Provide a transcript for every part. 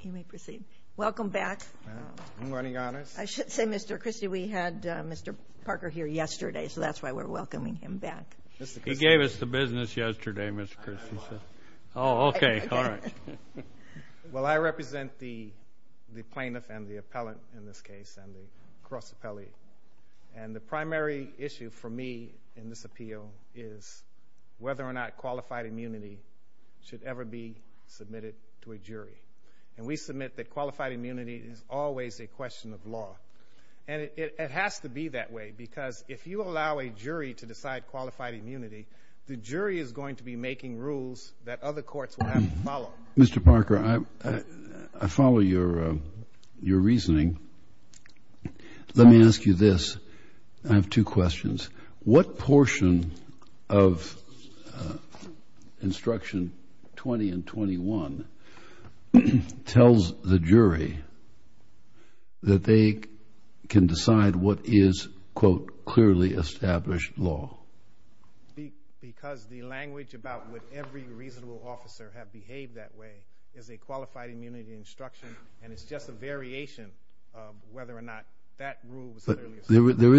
He may proceed. Welcome back. Good morning, Your Honor. I should say, Mr. Christie, we had Mr. Parker here yesterday, so that's why we're welcoming him back. He gave us the business yesterday, Mr. Christie. Oh, okay. All right. Well, I represent the plaintiff and the appellant in this case, and the cross appellee. And the primary issue for me in this appeal is whether or not qualified immunity should ever be submitted to a jury. And we submit that qualified immunity is always a question of law. And it has to be that way because if you allow a jury to decide qualified immunity, the jury is going to be making rules that other courts will have to follow. Mr. Parker, I follow your reasoning. Let me ask you this. I have two questions. What portion of Instruction 20 and 21 tells the jury that they can decide what is, quote, clearly established law? Because the language about would every reasonable officer have behaved that way is a qualified immunity instruction, and it's just a variation of whether or not that rule was clearly established. There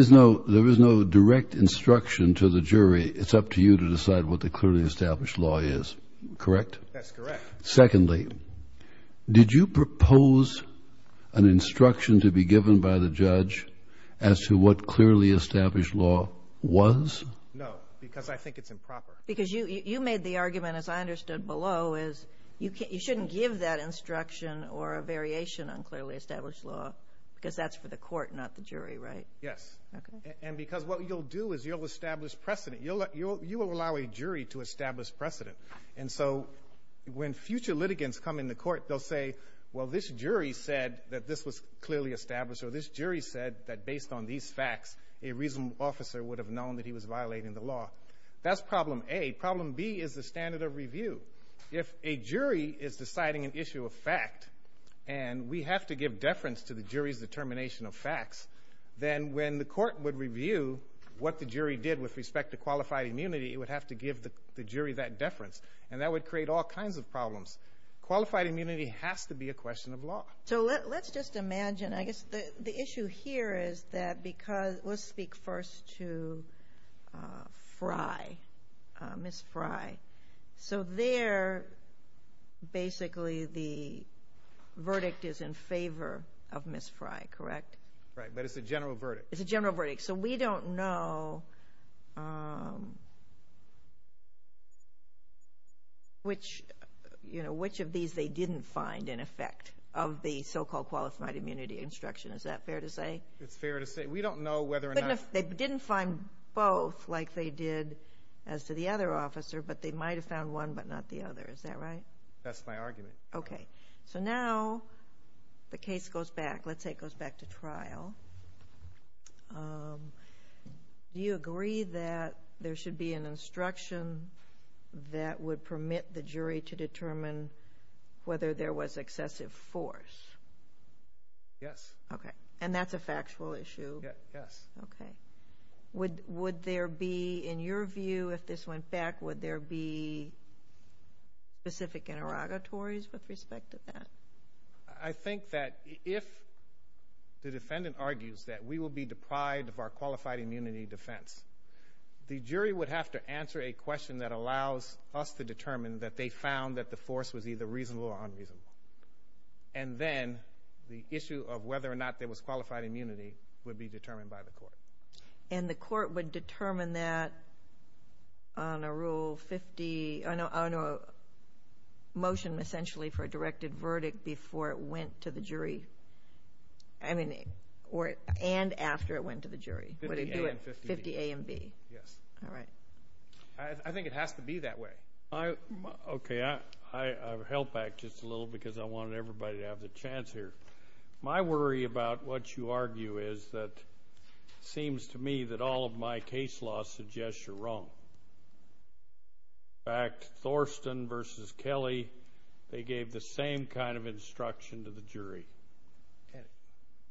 is no direct instruction to the jury. It's up to you to decide what the clearly established law is, correct? That's correct. Secondly, did you propose an instruction to be given by the judge as to what clearly established law was? No, because I think it's improper. Because you made the argument, as I understood below, is you shouldn't give that instruction or a variation on clearly established law because that's for the court, not the jury, right? Yes. And because what you'll do is you'll establish precedent. You will allow a jury to establish precedent. And so when future litigants come in the court, they'll say, well, this jury said that this was clearly established, or this jury said that based on these facts a reasonable officer would have known that he was violating the law. That's problem A. Problem B is the standard of review. If a jury is deciding an issue of fact and we have to give deference to the jury's determination of facts, then when the court would review what the jury did with respect to qualified immunity, it would have to give the jury that deference, and that would create all kinds of problems. Qualified immunity has to be a question of law. So let's just imagine, I guess the issue here is that because let's speak first to Fry, Ms. Fry. So there basically the verdict is in favor of Ms. Fry, correct? Right, but it's a general verdict. It's a general verdict. So we don't know which of these they didn't find in effect of the so-called qualified immunity instruction. Is that fair to say? It's fair to say. We don't know whether or not. They didn't find both like they did as to the other officer, but they might have found one but not the other. Is that right? That's my argument. Okay. So now the case goes back. Let's say it goes back to trial. Do you agree that there should be an instruction that would permit the jury to determine whether there was excessive force? Yes. Okay. And that's a factual issue? Yes. Okay. Would there be, in your view, if this went back, would there be specific interrogatories with respect to that? I think that if the defendant argues that we will be deprived of our qualified immunity defense, the jury would have to answer a question that allows us to determine that they found that the force was either reasonable or unreasonable. And then the issue of whether or not there was qualified immunity would be determined by the court. And the court would determine that on a rule 50, on a motion essentially for a directed verdict before it went to the jury? I mean, and after it went to the jury? 50A and 50B. 50A and B. Yes. All right. I think it has to be that way. Okay. I held back just a little because I wanted everybody to have the chance here. My worry about what you argue is that it seems to me that all of my case laws suggest you're wrong. In fact, Thorsten v. Kelly, they gave the same kind of instruction to the jury.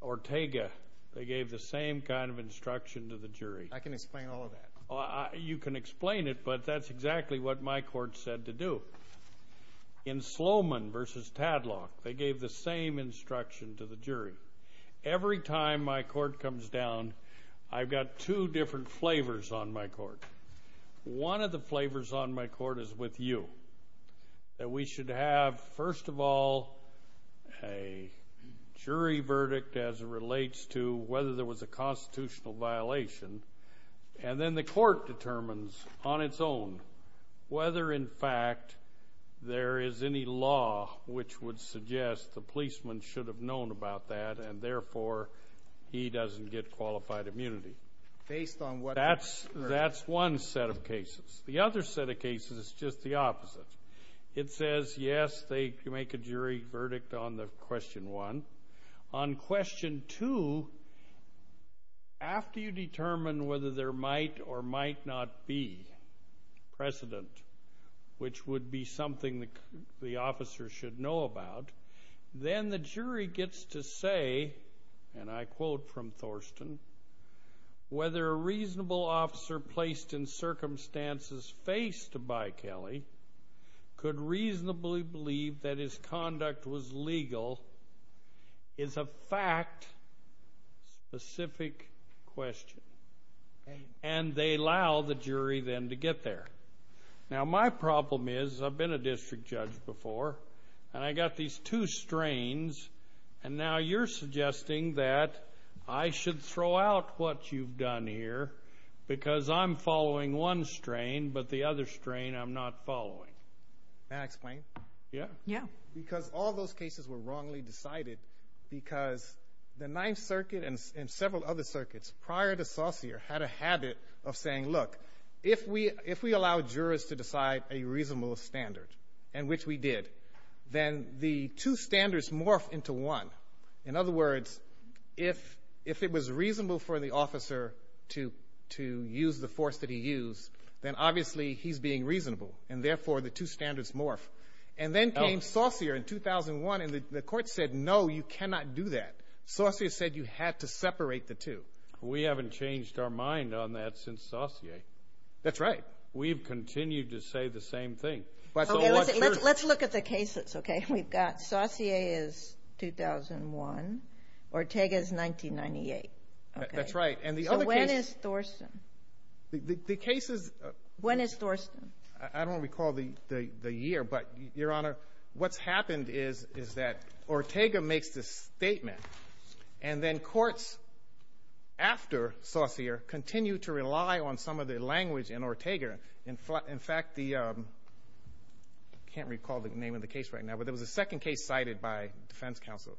Ortega, they gave the same kind of instruction to the jury. I can explain all of that. You can explain it, but that's exactly what my court said to do. In Sloman v. Tadlock, they gave the same instruction to the jury. Every time my court comes down, I've got two different flavors on my court. One of the flavors on my court is with you, that we should have, first of all, a jury verdict as it relates to whether there was a constitutional violation. And then the court determines on its own whether, in fact, there is any law which would suggest the policeman should have known about that, and therefore he doesn't get qualified immunity. Based on what? That's one set of cases. The other set of cases is just the opposite. It says, yes, they can make a jury verdict on the question one. On question two, after you determine whether there might or might not be precedent, which would be something the officer should know about, then the jury gets to say, and I quote from Thorsten, whether a reasonable officer placed in circumstances faced by Kelly could reasonably believe that his conduct was legal is a fact-specific question. And they allow the jury then to get there. Now, my problem is I've been a district judge before, and I got these two strains, and now you're suggesting that I should throw out what you've done here because I'm following one strain but the other strain I'm not following. May I explain? Yeah. Yeah. Because all those cases were wrongly decided because the Ninth Circuit and several other circuits prior to Saucere had a habit of saying, look, if we allow jurors to decide a reasonable standard, and which we did, then the two standards morph into one. In other words, if it was reasonable for the officer to use the force that he used, then obviously he's being reasonable, and therefore the two standards morph. And then came Saucere in 2001, and the court said, no, you cannot do that. Saucere said you had to separate the two. We haven't changed our mind on that since Saucere. That's right. We've continued to say the same thing. Let's look at the cases, okay? We've got Saucere is 2001. Ortega is 1998. That's right. So when is Thorston? The cases of the year, but, Your Honor, what's happened is that Ortega makes the statement, and then courts after Saucere continue to rely on some of the language in Ortega. In fact, I can't recall the name of the case right now, but there was a second case cited by defense counsel.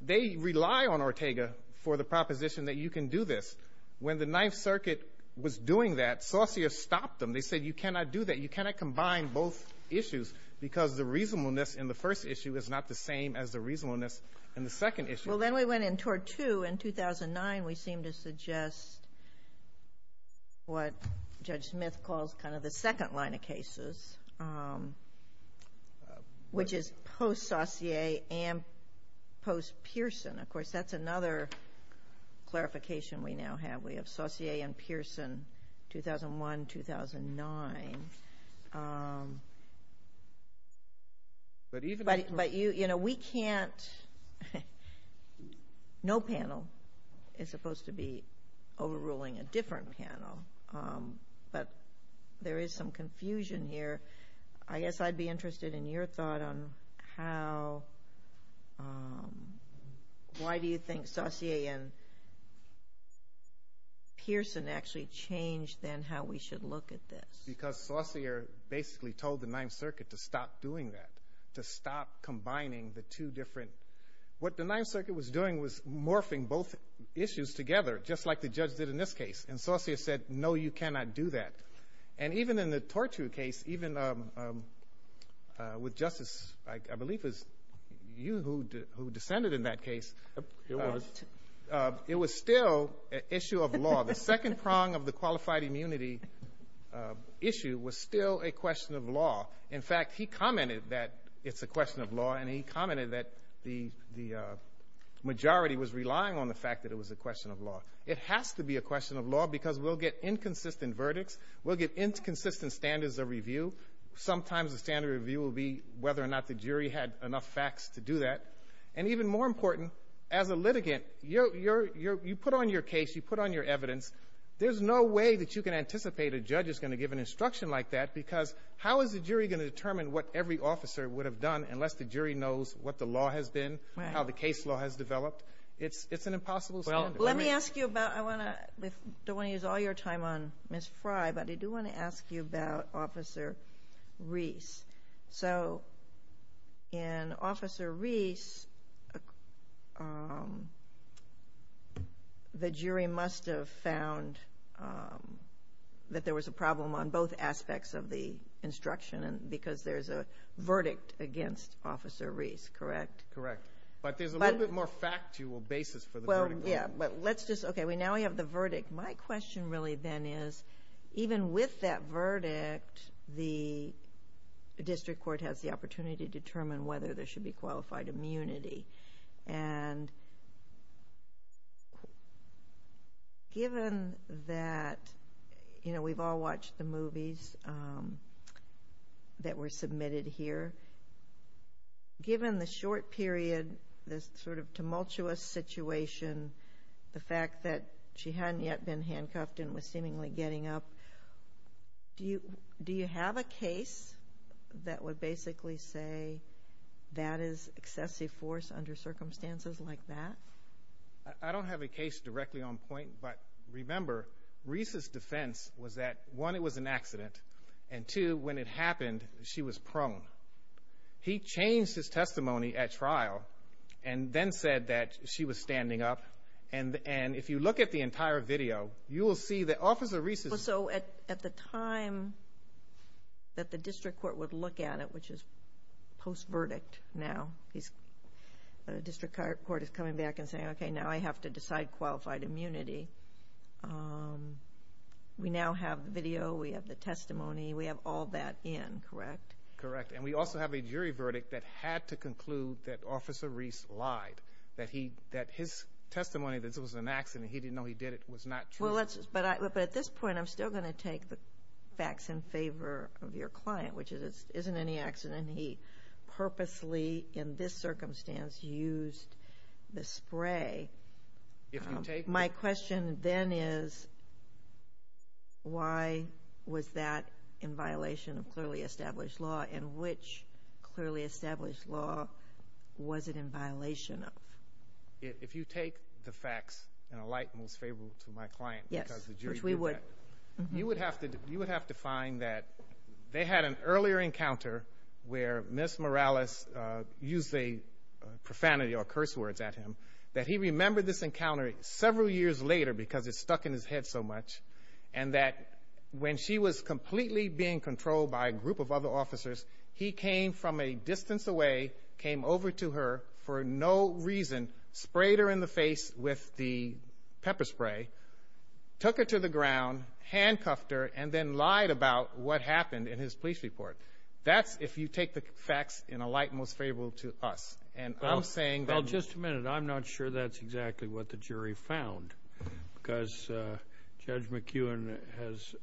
They rely on Ortega for the proposition that you can do this. When the Ninth Circuit was doing that, Saucere stopped them. They said you cannot do that. You cannot combine both issues because the reasonableness in the first issue is not the same as the reasonableness in the second issue. Well, then we went in toward two. In 2009, we seemed to suggest what Judge Smith calls kind of the second line of cases, which is post-Saucere and post-Pearson. Of course, that's another clarification we now have. We have Saucere and Pearson, 2001-2009. No panel is supposed to be overruling a different panel, but there is some confusion here. I guess I'd be interested in your thought on why do you think Saucere and Pearson actually changed, then, how we should look at this. Because Saucere basically told the Ninth Circuit to stop doing that, to stop combining the two different. What the Ninth Circuit was doing was morphing both issues together, just like the judge did in this case. Saucere said, no, you cannot do that. Even in the Torture case, even with Justice, I believe it was you who descended in that case. It was. It was still an issue of law. The second prong of the qualified immunity issue was still a question of law. In fact, he commented that it's a question of law, and he commented that the majority was relying on the fact that it was a question of law. It has to be a question of law because we'll get inconsistent verdicts. We'll get inconsistent standards of review. Sometimes the standard review will be whether or not the jury had enough facts to do that. Even more important, as a litigant, you put on your case, you put on your evidence. There's no way that you can anticipate a judge is going to give an instruction like that, because how is the jury going to determine what every officer would have done unless the jury knows what the law has been, how the case law has developed? It's an impossible standard. Let me ask you about, I don't want to use all your time on Ms. Fry, but I do want to ask you about Officer Reese. So in Officer Reese, the jury must have found that there was a problem on both aspects of the instruction because there's a verdict against Officer Reese, correct? Correct. But there's a little bit more factual basis for the verdict. Okay, now we have the verdict. My question really then is, even with that verdict, the district court has the opportunity to determine whether there should be qualified immunity. Given that we've all watched the movies that were submitted here, given the short period, this sort of tumultuous situation, the fact that she hadn't yet been handcuffed and was seemingly getting up, do you have a case that would basically say that is excessive force under circumstances like that? I don't have a case directly on point, but remember, Reese's defense was that, one, it was an accident, and two, when it happened, she was prone. He changed his testimony at trial and then said that she was standing up. And if you look at the entire video, you will see that Officer Reese is So at the time that the district court would look at it, which is post-verdict now, the district court is coming back and saying, okay, now I have to decide qualified immunity. We now have the video. We have the testimony. We have all that in, correct? Correct. And we also have a jury verdict that had to conclude that Officer Reese lied, that his testimony that this was an accident, he didn't know he did it, was not true. But at this point, I'm still going to take the facts in favor of your client, which is it isn't any accident. He purposely, in this circumstance, used the spray. My question then is, why was that in violation of clearly established law, and which clearly established law was it in violation of? If you take the facts in a light most favorable to my client because of the jury verdict, you would have to find that they had an earlier encounter where Ms. Morales used the profanity or curse words at him, that he remembered this encounter several years later because it stuck in his head so much, and that when she was completely being controlled by a group of other officers, he came from a distance away, came over to her for no reason, sprayed her in the face with the pepper spray, took her to the ground, handcuffed her, and then lied about what happened in his police report. That's if you take the facts in a light most favorable to us. Well, just a minute. I'm not sure that's exactly what the jury found because Judge McEwen has,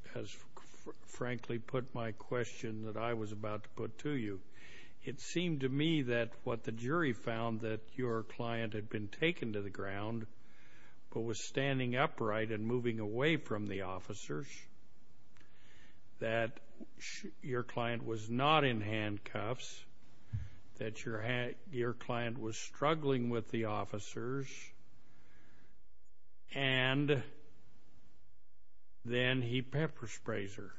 frankly, put my question that I was about to put to you. It seemed to me that what the jury found, that your client had been taken to the ground but was standing upright and moving away from the officers, that your client was not in handcuffs, that your client was struggling with the officers, and then he pepper sprays her.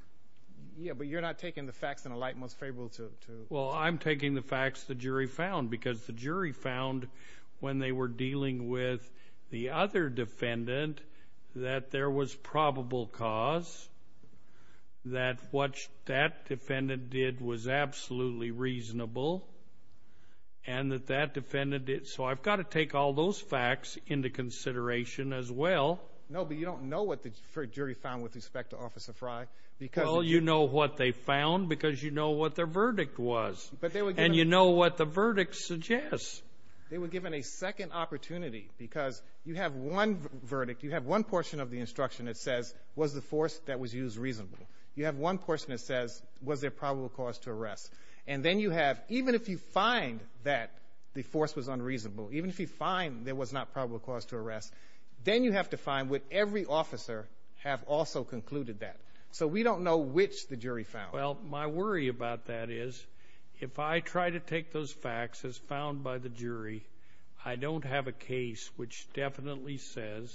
Yeah, but you're not taking the facts in a light most favorable to us. Well, I'm taking the facts the jury found because the jury found when they were dealing with the other defendant that there was probable cause, that what that defendant did was absolutely reasonable, and that that defendant did. So I've got to take all those facts into consideration as well. No, but you don't know what the jury found with respect to Officer Fry. Well, you know what they found because you know what their verdict was, and you know what the verdict suggests. They were given a second opportunity because you have one verdict, you have one portion of the instruction that says, was the force that was used reasonable? You have one portion that says, was there probable cause to arrest? And then you have, even if you find that the force was unreasonable, even if you find there was not probable cause to arrest, then you have to find would every officer have also concluded that? So we don't know which the jury found. Well, my worry about that is if I try to take those facts as found by the jury, I don't have a case which definitely says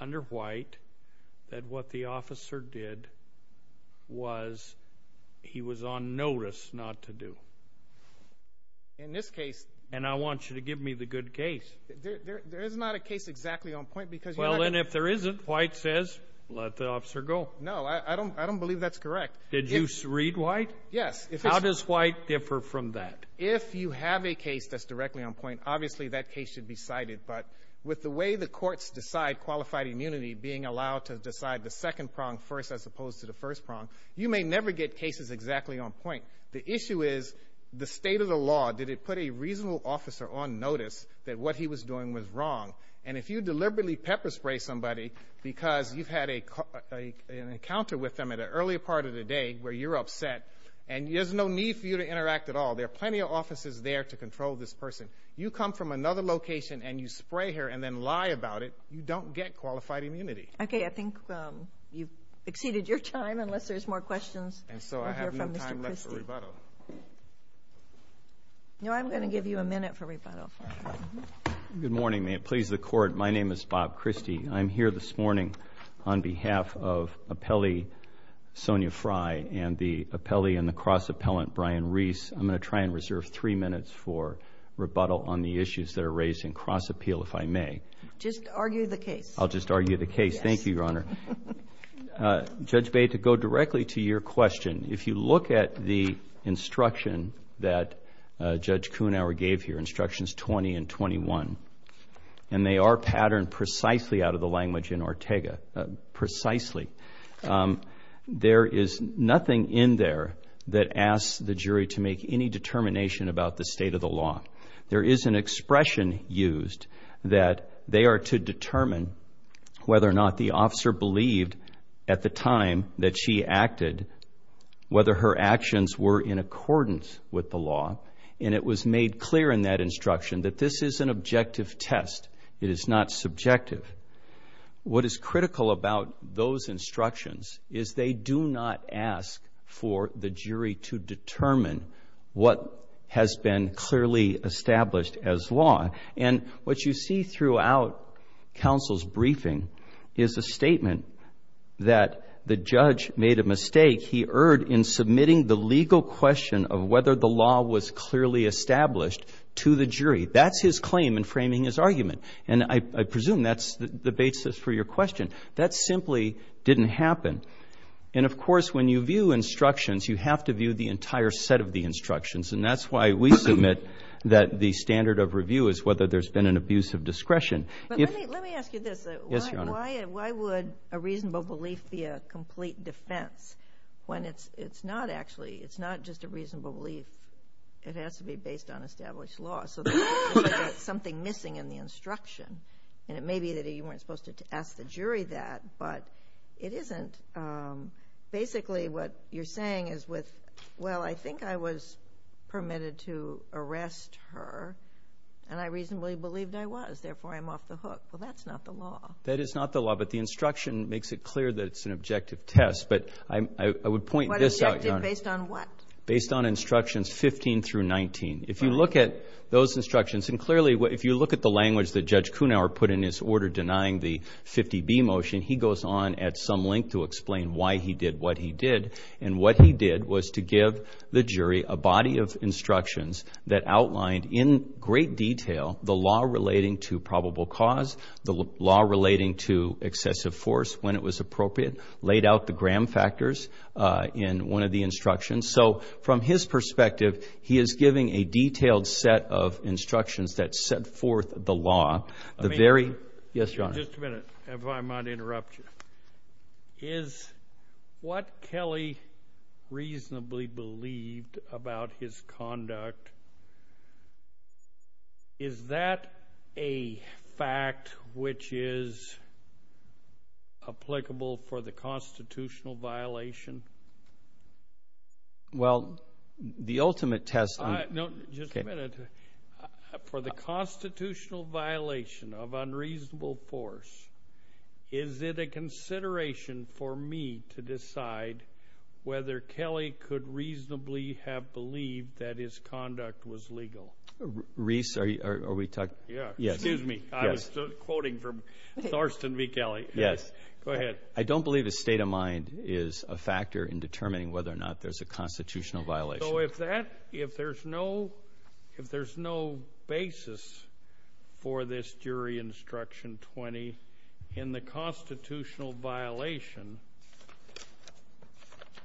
under White that what the officer did was he was on notice not to do. In this case. And I want you to give me the good case. There is not a case exactly on point because you're not going to. Well, then if there isn't, White says, let the officer go. No, I don't believe that's correct. Did you read White? Yes. How does White differ from that? If you have a case that's directly on point, obviously that case should be cited. But with the way the courts decide qualified immunity, being allowed to decide the second prong first as opposed to the first prong, you may never get cases exactly on point. The issue is the state of the law. Did it put a reasonable officer on notice that what he was doing was wrong? And if you deliberately pepper spray somebody because you've had an encounter with them at an earlier part of the day where you're upset and there's no need for you to interact at all, there are plenty of officers there to control this person. You come from another location and you spray her and then lie about it, you don't get qualified immunity. Okay, I think you've exceeded your time unless there's more questions. And so I have no time left for rebuttal. No, I'm going to give you a minute for rebuttal. Good morning. May it please the Court, my name is Bob Christie. I'm here this morning on behalf of appellee Sonia Frey and the appellee and the cross-appellant Brian Reese. I'm going to try and reserve three minutes for rebuttal on the issues that are raised in cross-appeal, if I may. Just argue the case. I'll just argue the case. Thank you, Your Honor. Judge Bay, to go directly to your question, if you look at the instruction that Judge Kuhnhauer gave here, instructions 20 and 21, and they are patterned precisely out of the language in Ortega, precisely. There is nothing in there that asks the jury to make any determination about the state of the law. There is an expression used that they are to determine whether or not the officer believed at the time that she acted, whether her actions were in accordance with the law. And it was made clear in that instruction that this is an objective test. It is not subjective. What is critical about those instructions is they do not ask for the jury to determine what has been clearly established as law. And what you see throughout counsel's briefing is a statement that the judge made a mistake. He erred in submitting the legal question of whether the law was clearly established to the jury. That's his claim in framing his argument, and I presume that's the basis for your question. That simply didn't happen. And, of course, when you view instructions, you have to view the entire set of the instructions, and that's why we submit that the standard of review is whether there's been an abuse of discretion. Let me ask you this. Yes, Your Honor. Why would a reasonable belief be a complete defense when it's not actually? It's not just a reasonable belief. It has to be based on established law, so there's something missing in the instruction. And it may be that you weren't supposed to ask the jury that, but it isn't. Basically, what you're saying is with, well, I think I was permitted to arrest her, and I reasonably believed I was, therefore I'm off the hook. Well, that's not the law. That is not the law, but the instruction makes it clear that it's an objective test. But I would point this out, Your Honor. Based on what? Based on instructions 15 through 19. If you look at those instructions, and clearly if you look at the language that Judge Kunauer put in his order denying the 50B motion, he goes on at some length to explain why he did what he did. And what he did was to give the jury a body of instructions that outlined in great detail the law relating to probable cause, the law relating to excessive force when it was appropriate, laid out the gram factors in one of the instructions. So from his perspective, he is giving a detailed set of instructions that set forth the law. Yes, Your Honor. Just a minute, if I might interrupt you. Is what Kelly reasonably believed about his conduct, is that a fact which is applicable for the constitutional violation? Well, the ultimate test. No, just a minute. For the constitutional violation of unreasonable force, is it a consideration for me to decide whether Kelly could reasonably have believed that his conduct was legal? Reese, are we talking? Yes. Excuse me. I was quoting from Thorston v. Kelly. Yes. Go ahead. I don't believe a state of mind is a factor in determining whether or not there's a constitutional violation. So if there's no basis for this jury instruction 20 in the constitutional violation,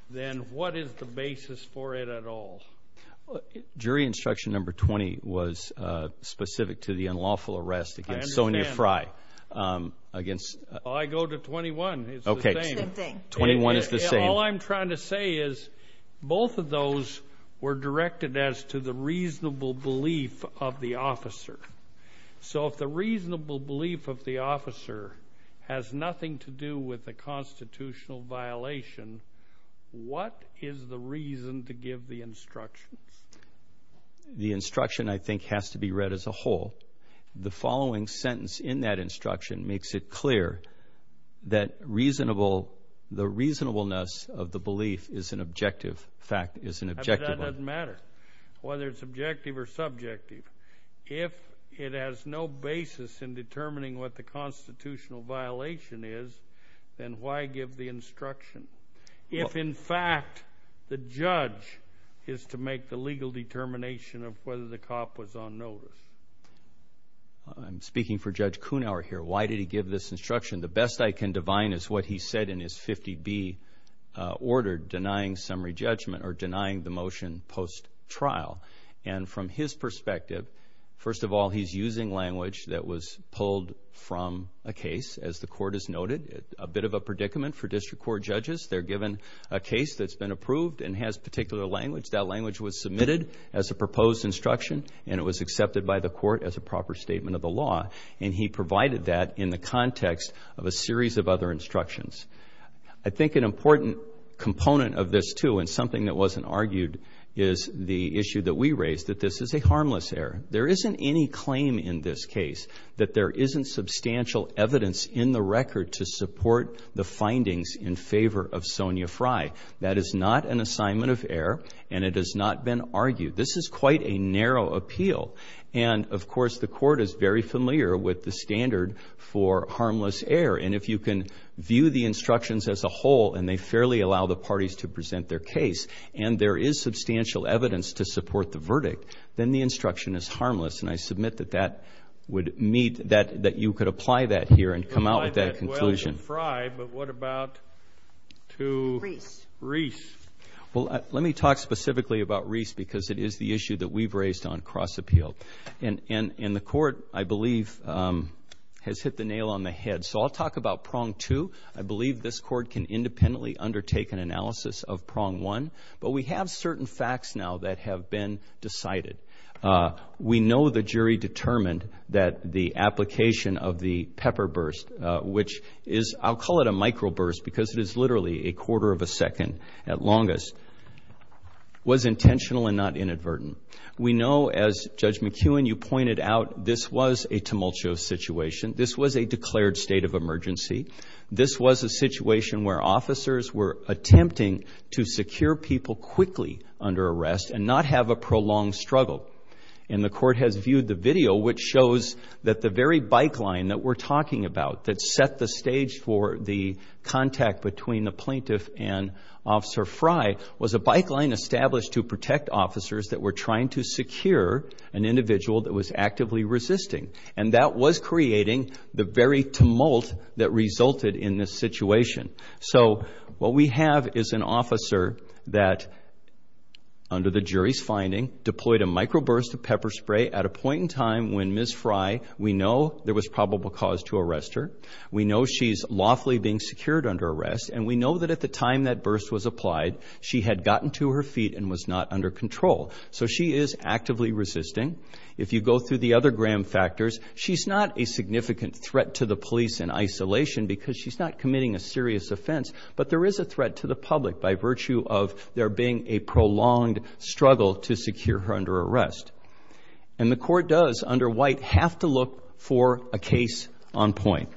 then what is the basis for it at all? Jury instruction number 20 was specific to the unlawful arrest against Sonia Frye. I understand. I go to 21. It's the same. Okay. Same thing. 21 is the same. All I'm trying to say is both of those were directed as to the reasonable belief of the officer. So if the reasonable belief of the officer has nothing to do with the constitutional violation, what is the reason to give the instructions? The instruction, I think, has to be read as a whole. The following sentence in that instruction makes it clear that the reasonableness of the belief is an objective fact, is an objective fact. But that doesn't matter whether it's objective or subjective. If it has no basis in determining what the constitutional violation is, then why give the instruction? If, in fact, the judge is to make the legal determination of whether the cop was on notice. I'm speaking for Judge Kunauer here. Why did he give this instruction? The best I can divine is what he said in his 50B order denying summary judgment or denying the motion post-trial. And from his perspective, first of all, he's using language that was pulled from a case, as the court has noted, a bit of a predicament for district court judges. They're given a case that's been approved and has particular language. That language was submitted as a proposed instruction, and it was accepted by the court as a proper statement of the law. And he provided that in the context of a series of other instructions. I think an important component of this, too, and something that wasn't argued is the issue that we raised, that this is a harmless error. There isn't any claim in this case that there isn't substantial evidence in the record to support the findings in favor of Sonia Frye. That is not an assignment of error, and it has not been argued. This is quite a narrow appeal. And, of course, the court is very familiar with the standard for harmless error. And if you can view the instructions as a whole and they fairly allow the parties to present their case and there is substantial evidence to support the verdict, then the instruction is harmless. And I submit that you could apply that here and come out with that conclusion. Well, to Frye, but what about to Reese? Well, let me talk specifically about Reese because it is the issue that we've raised on cross-appeal. And the court, I believe, has hit the nail on the head. So I'll talk about prong two. I believe this court can independently undertake an analysis of prong one. But we have certain facts now that have been decided. We know the jury determined that the application of the pepper burst, which is, I'll call it a microburst, because it is literally a quarter of a second at longest, was intentional and not inadvertent. We know, as Judge McKeown, you pointed out, this was a tumultuous situation. This was a declared state of emergency. This was a situation where officers were attempting to secure people quickly under arrest and not have a prolonged struggle. And the court has viewed the video, which shows that the very bike line that we're talking about that set the stage for the contact between the plaintiff and Officer Frye was a bike line established to protect officers that were trying to secure an individual that was actively resisting. And that was creating the very tumult that resulted in this situation. So what we have is an officer that, under the jury's finding, deployed a microburst of pepper spray at a point in time when Ms. Frye, we know there was probable cause to arrest her, we know she's lawfully being secured under arrest, and we know that at the time that burst was applied, she had gotten to her feet and was not under control. So she is actively resisting. If you go through the other Graham factors, she's not a significant threat to the police in isolation because she's not committing a serious offense, but there is a threat to the public by virtue of there being a prolonged struggle to secure her under arrest. And the court does, under White, have to look for a case on point.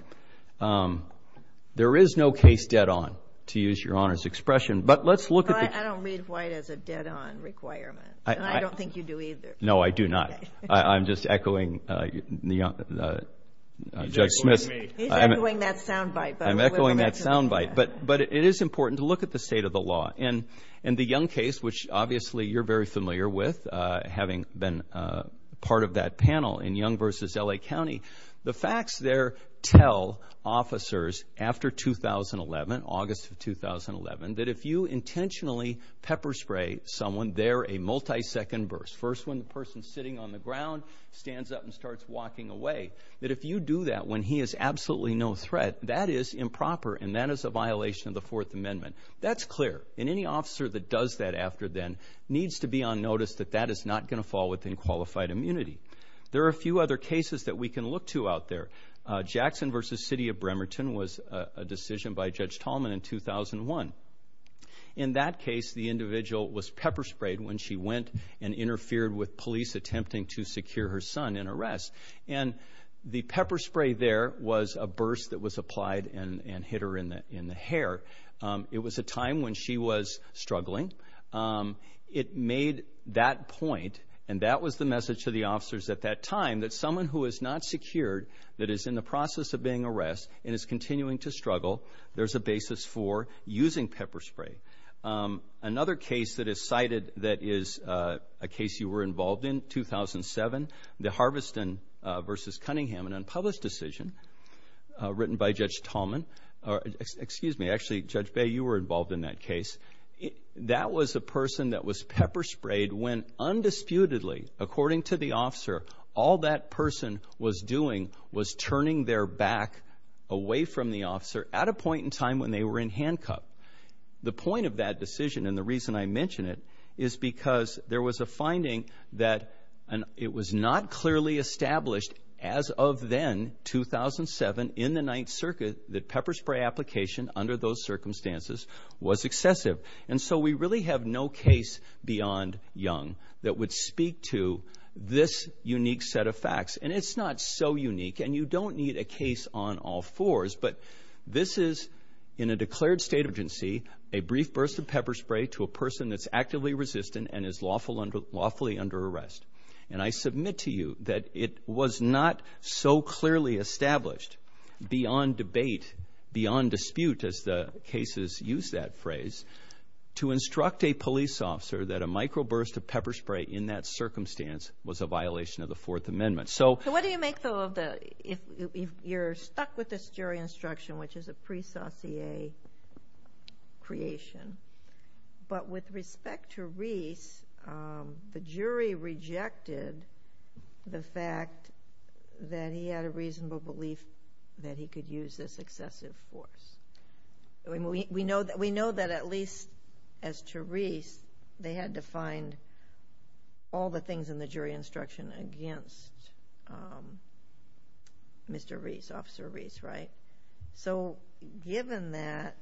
There is no case dead on, to use Your Honor's expression, but let's look at the... Well, I don't read White as a dead on requirement, and I don't think you do either. No, I do not. I'm just echoing Judge Smith. He's echoing me. He's echoing that soundbite. I'm echoing that soundbite, but it is important to look at the state of the law. In the Young case, which obviously you're very familiar with, having been part of that panel in Young v. L.A. County, the facts there tell officers after 2011, August of 2011, that if you intentionally pepper spray someone, they're a multi-second burst. First, when the person's sitting on the ground, stands up, and starts walking away. That if you do that when he is absolutely no threat, that is improper, and that is a violation of the Fourth Amendment. That's clear, and any officer that does that after then needs to be on notice that that is not going to fall within qualified immunity. There are a few other cases that we can look to out there. Jackson v. City of Bremerton was a decision by Judge Tallman in 2001. In that case, the individual was pepper sprayed when she went and interfered with police attempting to secure her son in arrest. And the pepper spray there was a burst that was applied and hit her in the hair. It was a time when she was struggling. It made that point, and that was the message to the officers at that time, that someone who is not secured, that is in the process of being arrested and is continuing to struggle, there's a basis for using pepper spray. Another case that is cited that is a case you were involved in, 2007, the Harveston v. Cunningham, an unpublished decision written by Judge Tallman. Excuse me, actually, Judge Bay, you were involved in that case. That was a person that was pepper sprayed when, undisputedly, according to the officer, all that person was doing was turning their back away from the officer at a point in time when they were in handcuff. The point of that decision and the reason I mention it is because there was a finding that it was not clearly established as of then, 2007, in the Ninth Circuit, that pepper spray application under those circumstances was excessive. And so we really have no case beyond Young that would speak to this unique set of facts. And it's not so unique, and you don't need a case on all fours, but this is, in a declared state agency, a brief burst of pepper spray to a person that's actively resistant and is lawfully under arrest. And I submit to you that it was not so clearly established beyond debate, beyond dispute, as the cases use that phrase, to instruct a police officer that a microburst of pepper spray in that circumstance was a violation of the Fourth Amendment. So what do you make, though, of the, if you're stuck with this jury instruction, which is a pre-saucier creation, but with respect to Reese, the jury rejected the fact that he had a reasonable belief that he could use this excessive force. We know that at least as to Reese, they had to find all the things in the jury instruction against Mr. Reese, Officer Reese, right? So given that,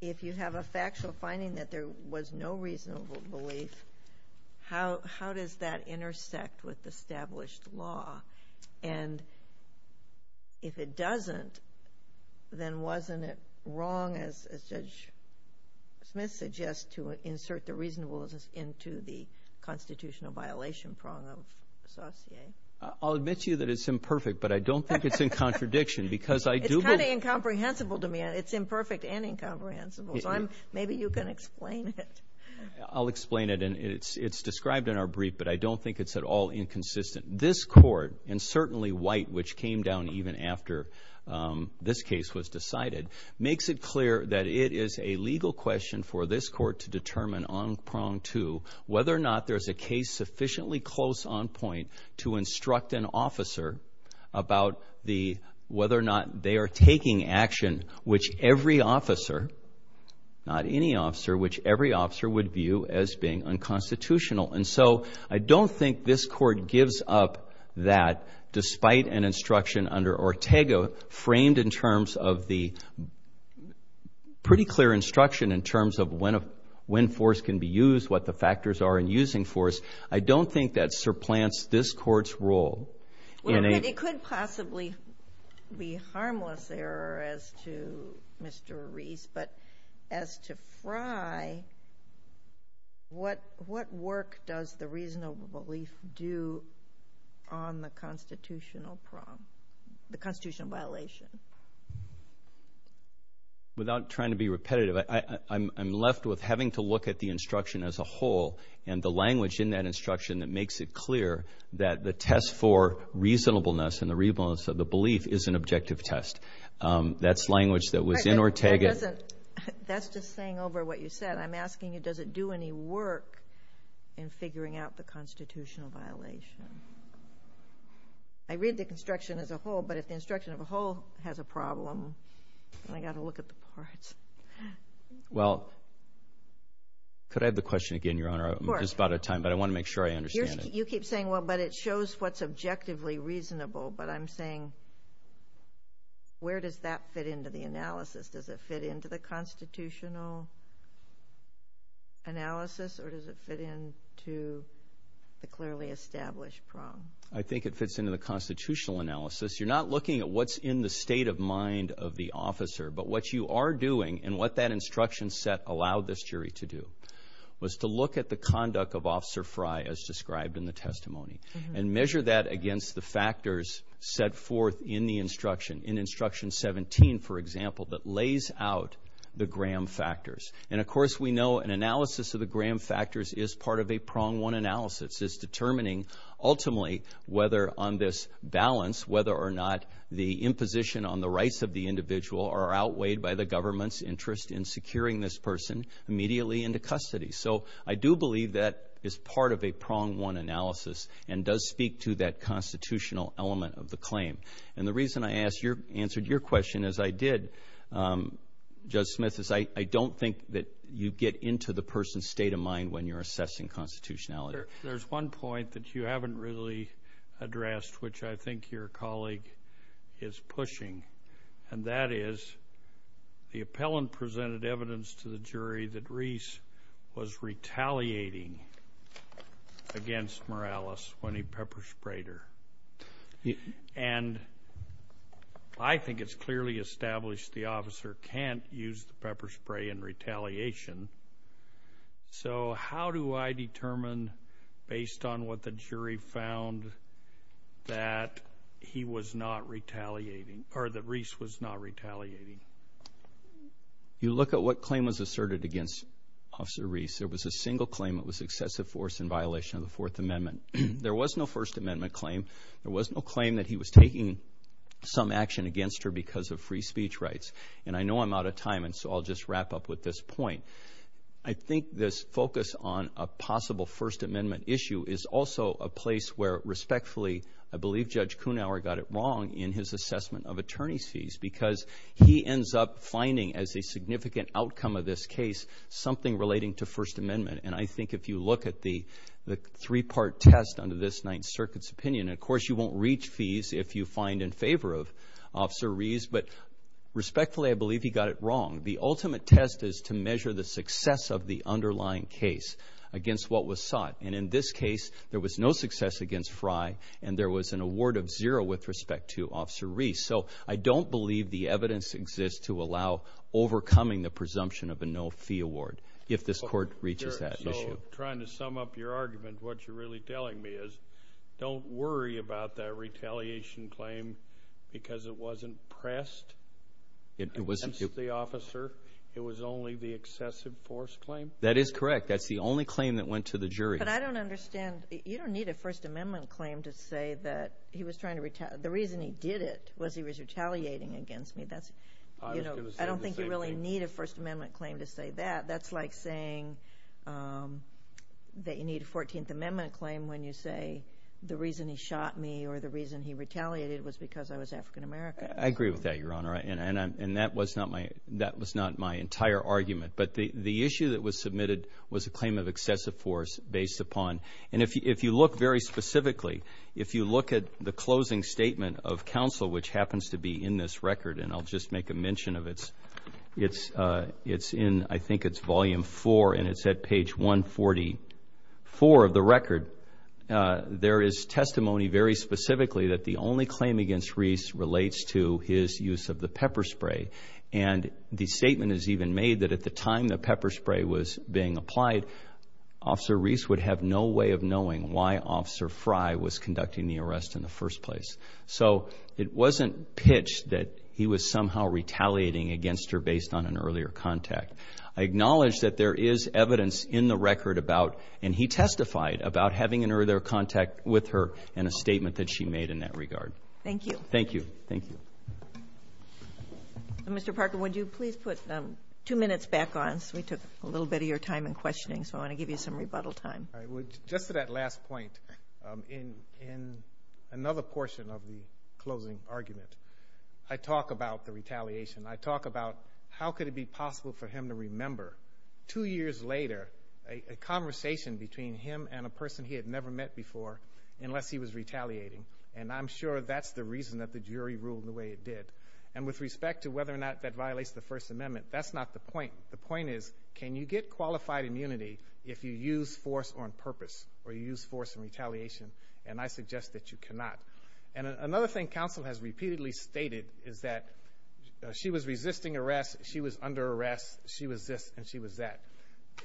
if you have a factual finding that there was no reasonable belief, how does that intersect with established law? And if it doesn't, then wasn't it wrong, as Judge Smith suggests, to insert the reasonableness into the constitutional violation prong of saucier? I'll admit to you that it's imperfect, but I don't think it's in contradiction because I do believe... It's kind of incomprehensible to me. It's imperfect and incomprehensible, so maybe you can explain it. I'll explain it, and it's described in our brief, but I don't think it's at all inconsistent. This court, and certainly White, which came down even after this case was decided, makes it clear that it is a legal question for this court to determine on prong two whether or not there's a case sufficiently close on point to instruct an officer about whether or not they are taking action which every officer, not any officer, which every officer would view as being unconstitutional. And so I don't think this court gives up that despite an instruction under Ortega framed in terms of the pretty clear instruction in terms of when force can be used, what the factors are in using force. I don't think that surplants this court's role. Well, it could possibly be harmless error as to Mr. Reese, but as to Frye, what work does the reasonable belief do on the constitutional prong, the constitutional violation? Without trying to be repetitive, I'm left with having to look at the instruction as a whole and the language in that instruction that makes it clear that the test for reasonableness and the reasonableness of the belief is an objective test. That's language that was in Ortega. That's just saying over what you said. I'm asking you, does it do any work in figuring out the constitutional violation? I read the instruction as a whole, but if the instruction as a whole has a problem, then I've got to look at the parts. Well, could I have the question again, Your Honor? Of course. I'm just out of time, but I want to make sure I understand it. You keep saying, well, but it shows what's objectively reasonable, but I'm saying where does that fit into the analysis? Does it fit into the constitutional analysis, or does it fit into the clearly established prong? I think it fits into the constitutional analysis. You're not looking at what's in the state of mind of the officer, but what you are doing and what that instruction set allowed this jury to do was to look at the conduct of Officer Frey as described in the testimony and measure that against the factors set forth in the instruction. In Instruction 17, for example, that lays out the Graham factors. And, of course, we know an analysis of the Graham factors is part of a prong-one analysis. It's determining ultimately whether on this balance, whether or not the imposition on the rights of the individual are outweighed by the government's interest in securing this person immediately into custody. So I do believe that is part of a prong-one analysis and does speak to that constitutional element of the claim. And the reason I answered your question as I did, Judge Smith, is I don't think that you get into the person's state of mind when you're assessing constitutionality. There's one point that you haven't really addressed, which I think your colleague is pushing, and that is the appellant presented evidence to the jury that Reese was retaliating against Morales when he pepper-sprayed her. And I think it's clearly established the officer can't use the pepper spray in retaliation. So how do I determine, based on what the jury found, that he was not retaliating or that Reese was not retaliating? You look at what claim was asserted against Officer Reese. There was a single claim that was excessive force in violation of the Fourth Amendment. There was no First Amendment claim. There was no claim that he was taking some action against her because of free speech rights. And I know I'm out of time, and so I'll just wrap up with this point. I think this focus on a possible First Amendment issue is also a place where, respectfully, I believe Judge Kuhnhauer got it wrong in his assessment of attorney's fees because he ends up finding, as a significant outcome of this case, something relating to First Amendment. And I think if you look at the three-part test under this Ninth Circuit's opinion, of course you won't reach fees if you find in favor of Officer Reese. But respectfully, I believe he got it wrong. The ultimate test is to measure the success of the underlying case against what was sought. And in this case, there was no success against Fry, and there was an award of zero with respect to Officer Reese. So I don't believe the evidence exists to allow overcoming the presumption of a no-fee award if this Court reaches that issue. So trying to sum up your argument, what you're really telling me is don't worry about that retaliation claim because it wasn't pressed against the officer. It was only the excessive force claim? That is correct. That's the only claim that went to the jury. But I don't understand. You don't need a First Amendment claim to say that he was trying to retaliate. The reason he did it was he was retaliating against me. I don't think you really need a First Amendment claim to say that. That's like saying that you need a 14th Amendment claim when you say the reason he shot me or the reason he retaliated was because I was African American. I agree with that, Your Honor, and that was not my entire argument. But the issue that was submitted was a claim of excessive force based upon and if you look very specifically, if you look at the closing statement of counsel, which happens to be in this record, and I'll just make a mention of it. It's in, I think it's Volume 4, and it's at page 144 of the record. There is testimony very specifically that the only claim against Reese relates to his use of the pepper spray. And the statement is even made that at the time the pepper spray was being applied, Officer Reese would have no way of knowing why Officer Fry was conducting the arrest in the first place. So it wasn't pitched that he was somehow retaliating against her based on an earlier contact. I acknowledge that there is evidence in the record about, and he testified about having an earlier contact with her in a statement that she made in that regard. Thank you. Thank you. Mr. Parker, would you please put two minutes back on? We took a little bit of your time in questioning, so I want to give you some rebuttal time. Just to that last point, in another portion of the closing argument, I talk about the retaliation. I talk about how could it be possible for him to remember two years later a conversation between him and a person he had never met before unless he was retaliating, and I'm sure that's the reason that the jury ruled the way it did. And with respect to whether or not that violates the First Amendment, that's not the point. The point is can you get qualified immunity if you use force on purpose or you use force in retaliation, and I suggest that you cannot. And another thing counsel has repeatedly stated is that she was resisting arrest, she was under arrest, she was this and she was that.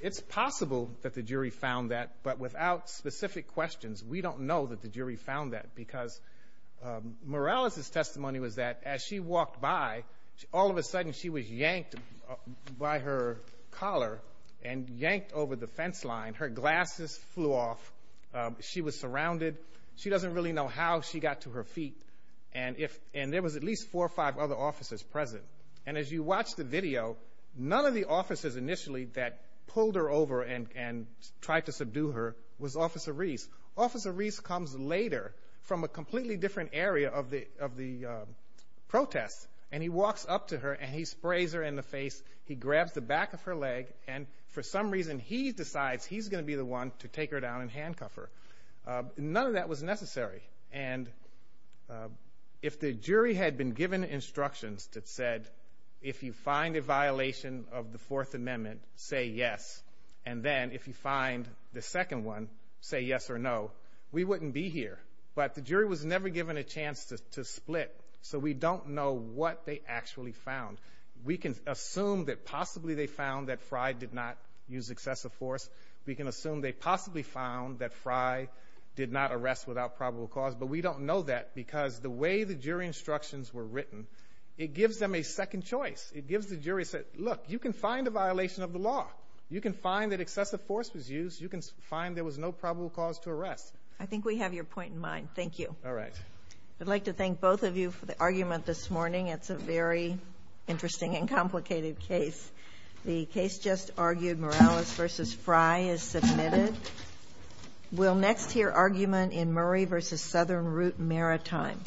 It's possible that the jury found that, but without specific questions, we don't know that the jury found that because Morales' testimony was that as she walked by, all of a sudden she was yanked by her collar and yanked over the fence line. Her glasses flew off. She was surrounded. She doesn't really know how she got to her feet, and there was at least four or five other officers present. And as you watch the video, none of the officers initially that pulled her over and tried to subdue her was Officer Reese. Officer Reese comes later from a completely different area of the protest, and he walks up to her and he sprays her in the face, he grabs the back of her leg, and for some reason he decides he's going to be the one to take her down and handcuff her. None of that was necessary. And if the jury had been given instructions that said if you find a violation of the Fourth Amendment, say yes, and then if you find the second one, say yes or no, we wouldn't be here. But the jury was never given a chance to split, so we don't know what they actually found. We can assume that possibly they found that Fry did not use excessive force. We can assume they possibly found that Fry did not arrest without probable cause, but we don't know that because the way the jury instructions were written, it gives them a second choice. Look, you can find a violation of the law. You can find that excessive force was used. You can find there was no probable cause to arrest. I think we have your point in mind. Thank you. All right. I'd like to thank both of you for the argument this morning. It's a very interesting and complicated case. The case just argued, Morales v. Fry, is submitted. We'll next hear argument in Murray v. Southern Root Maritime.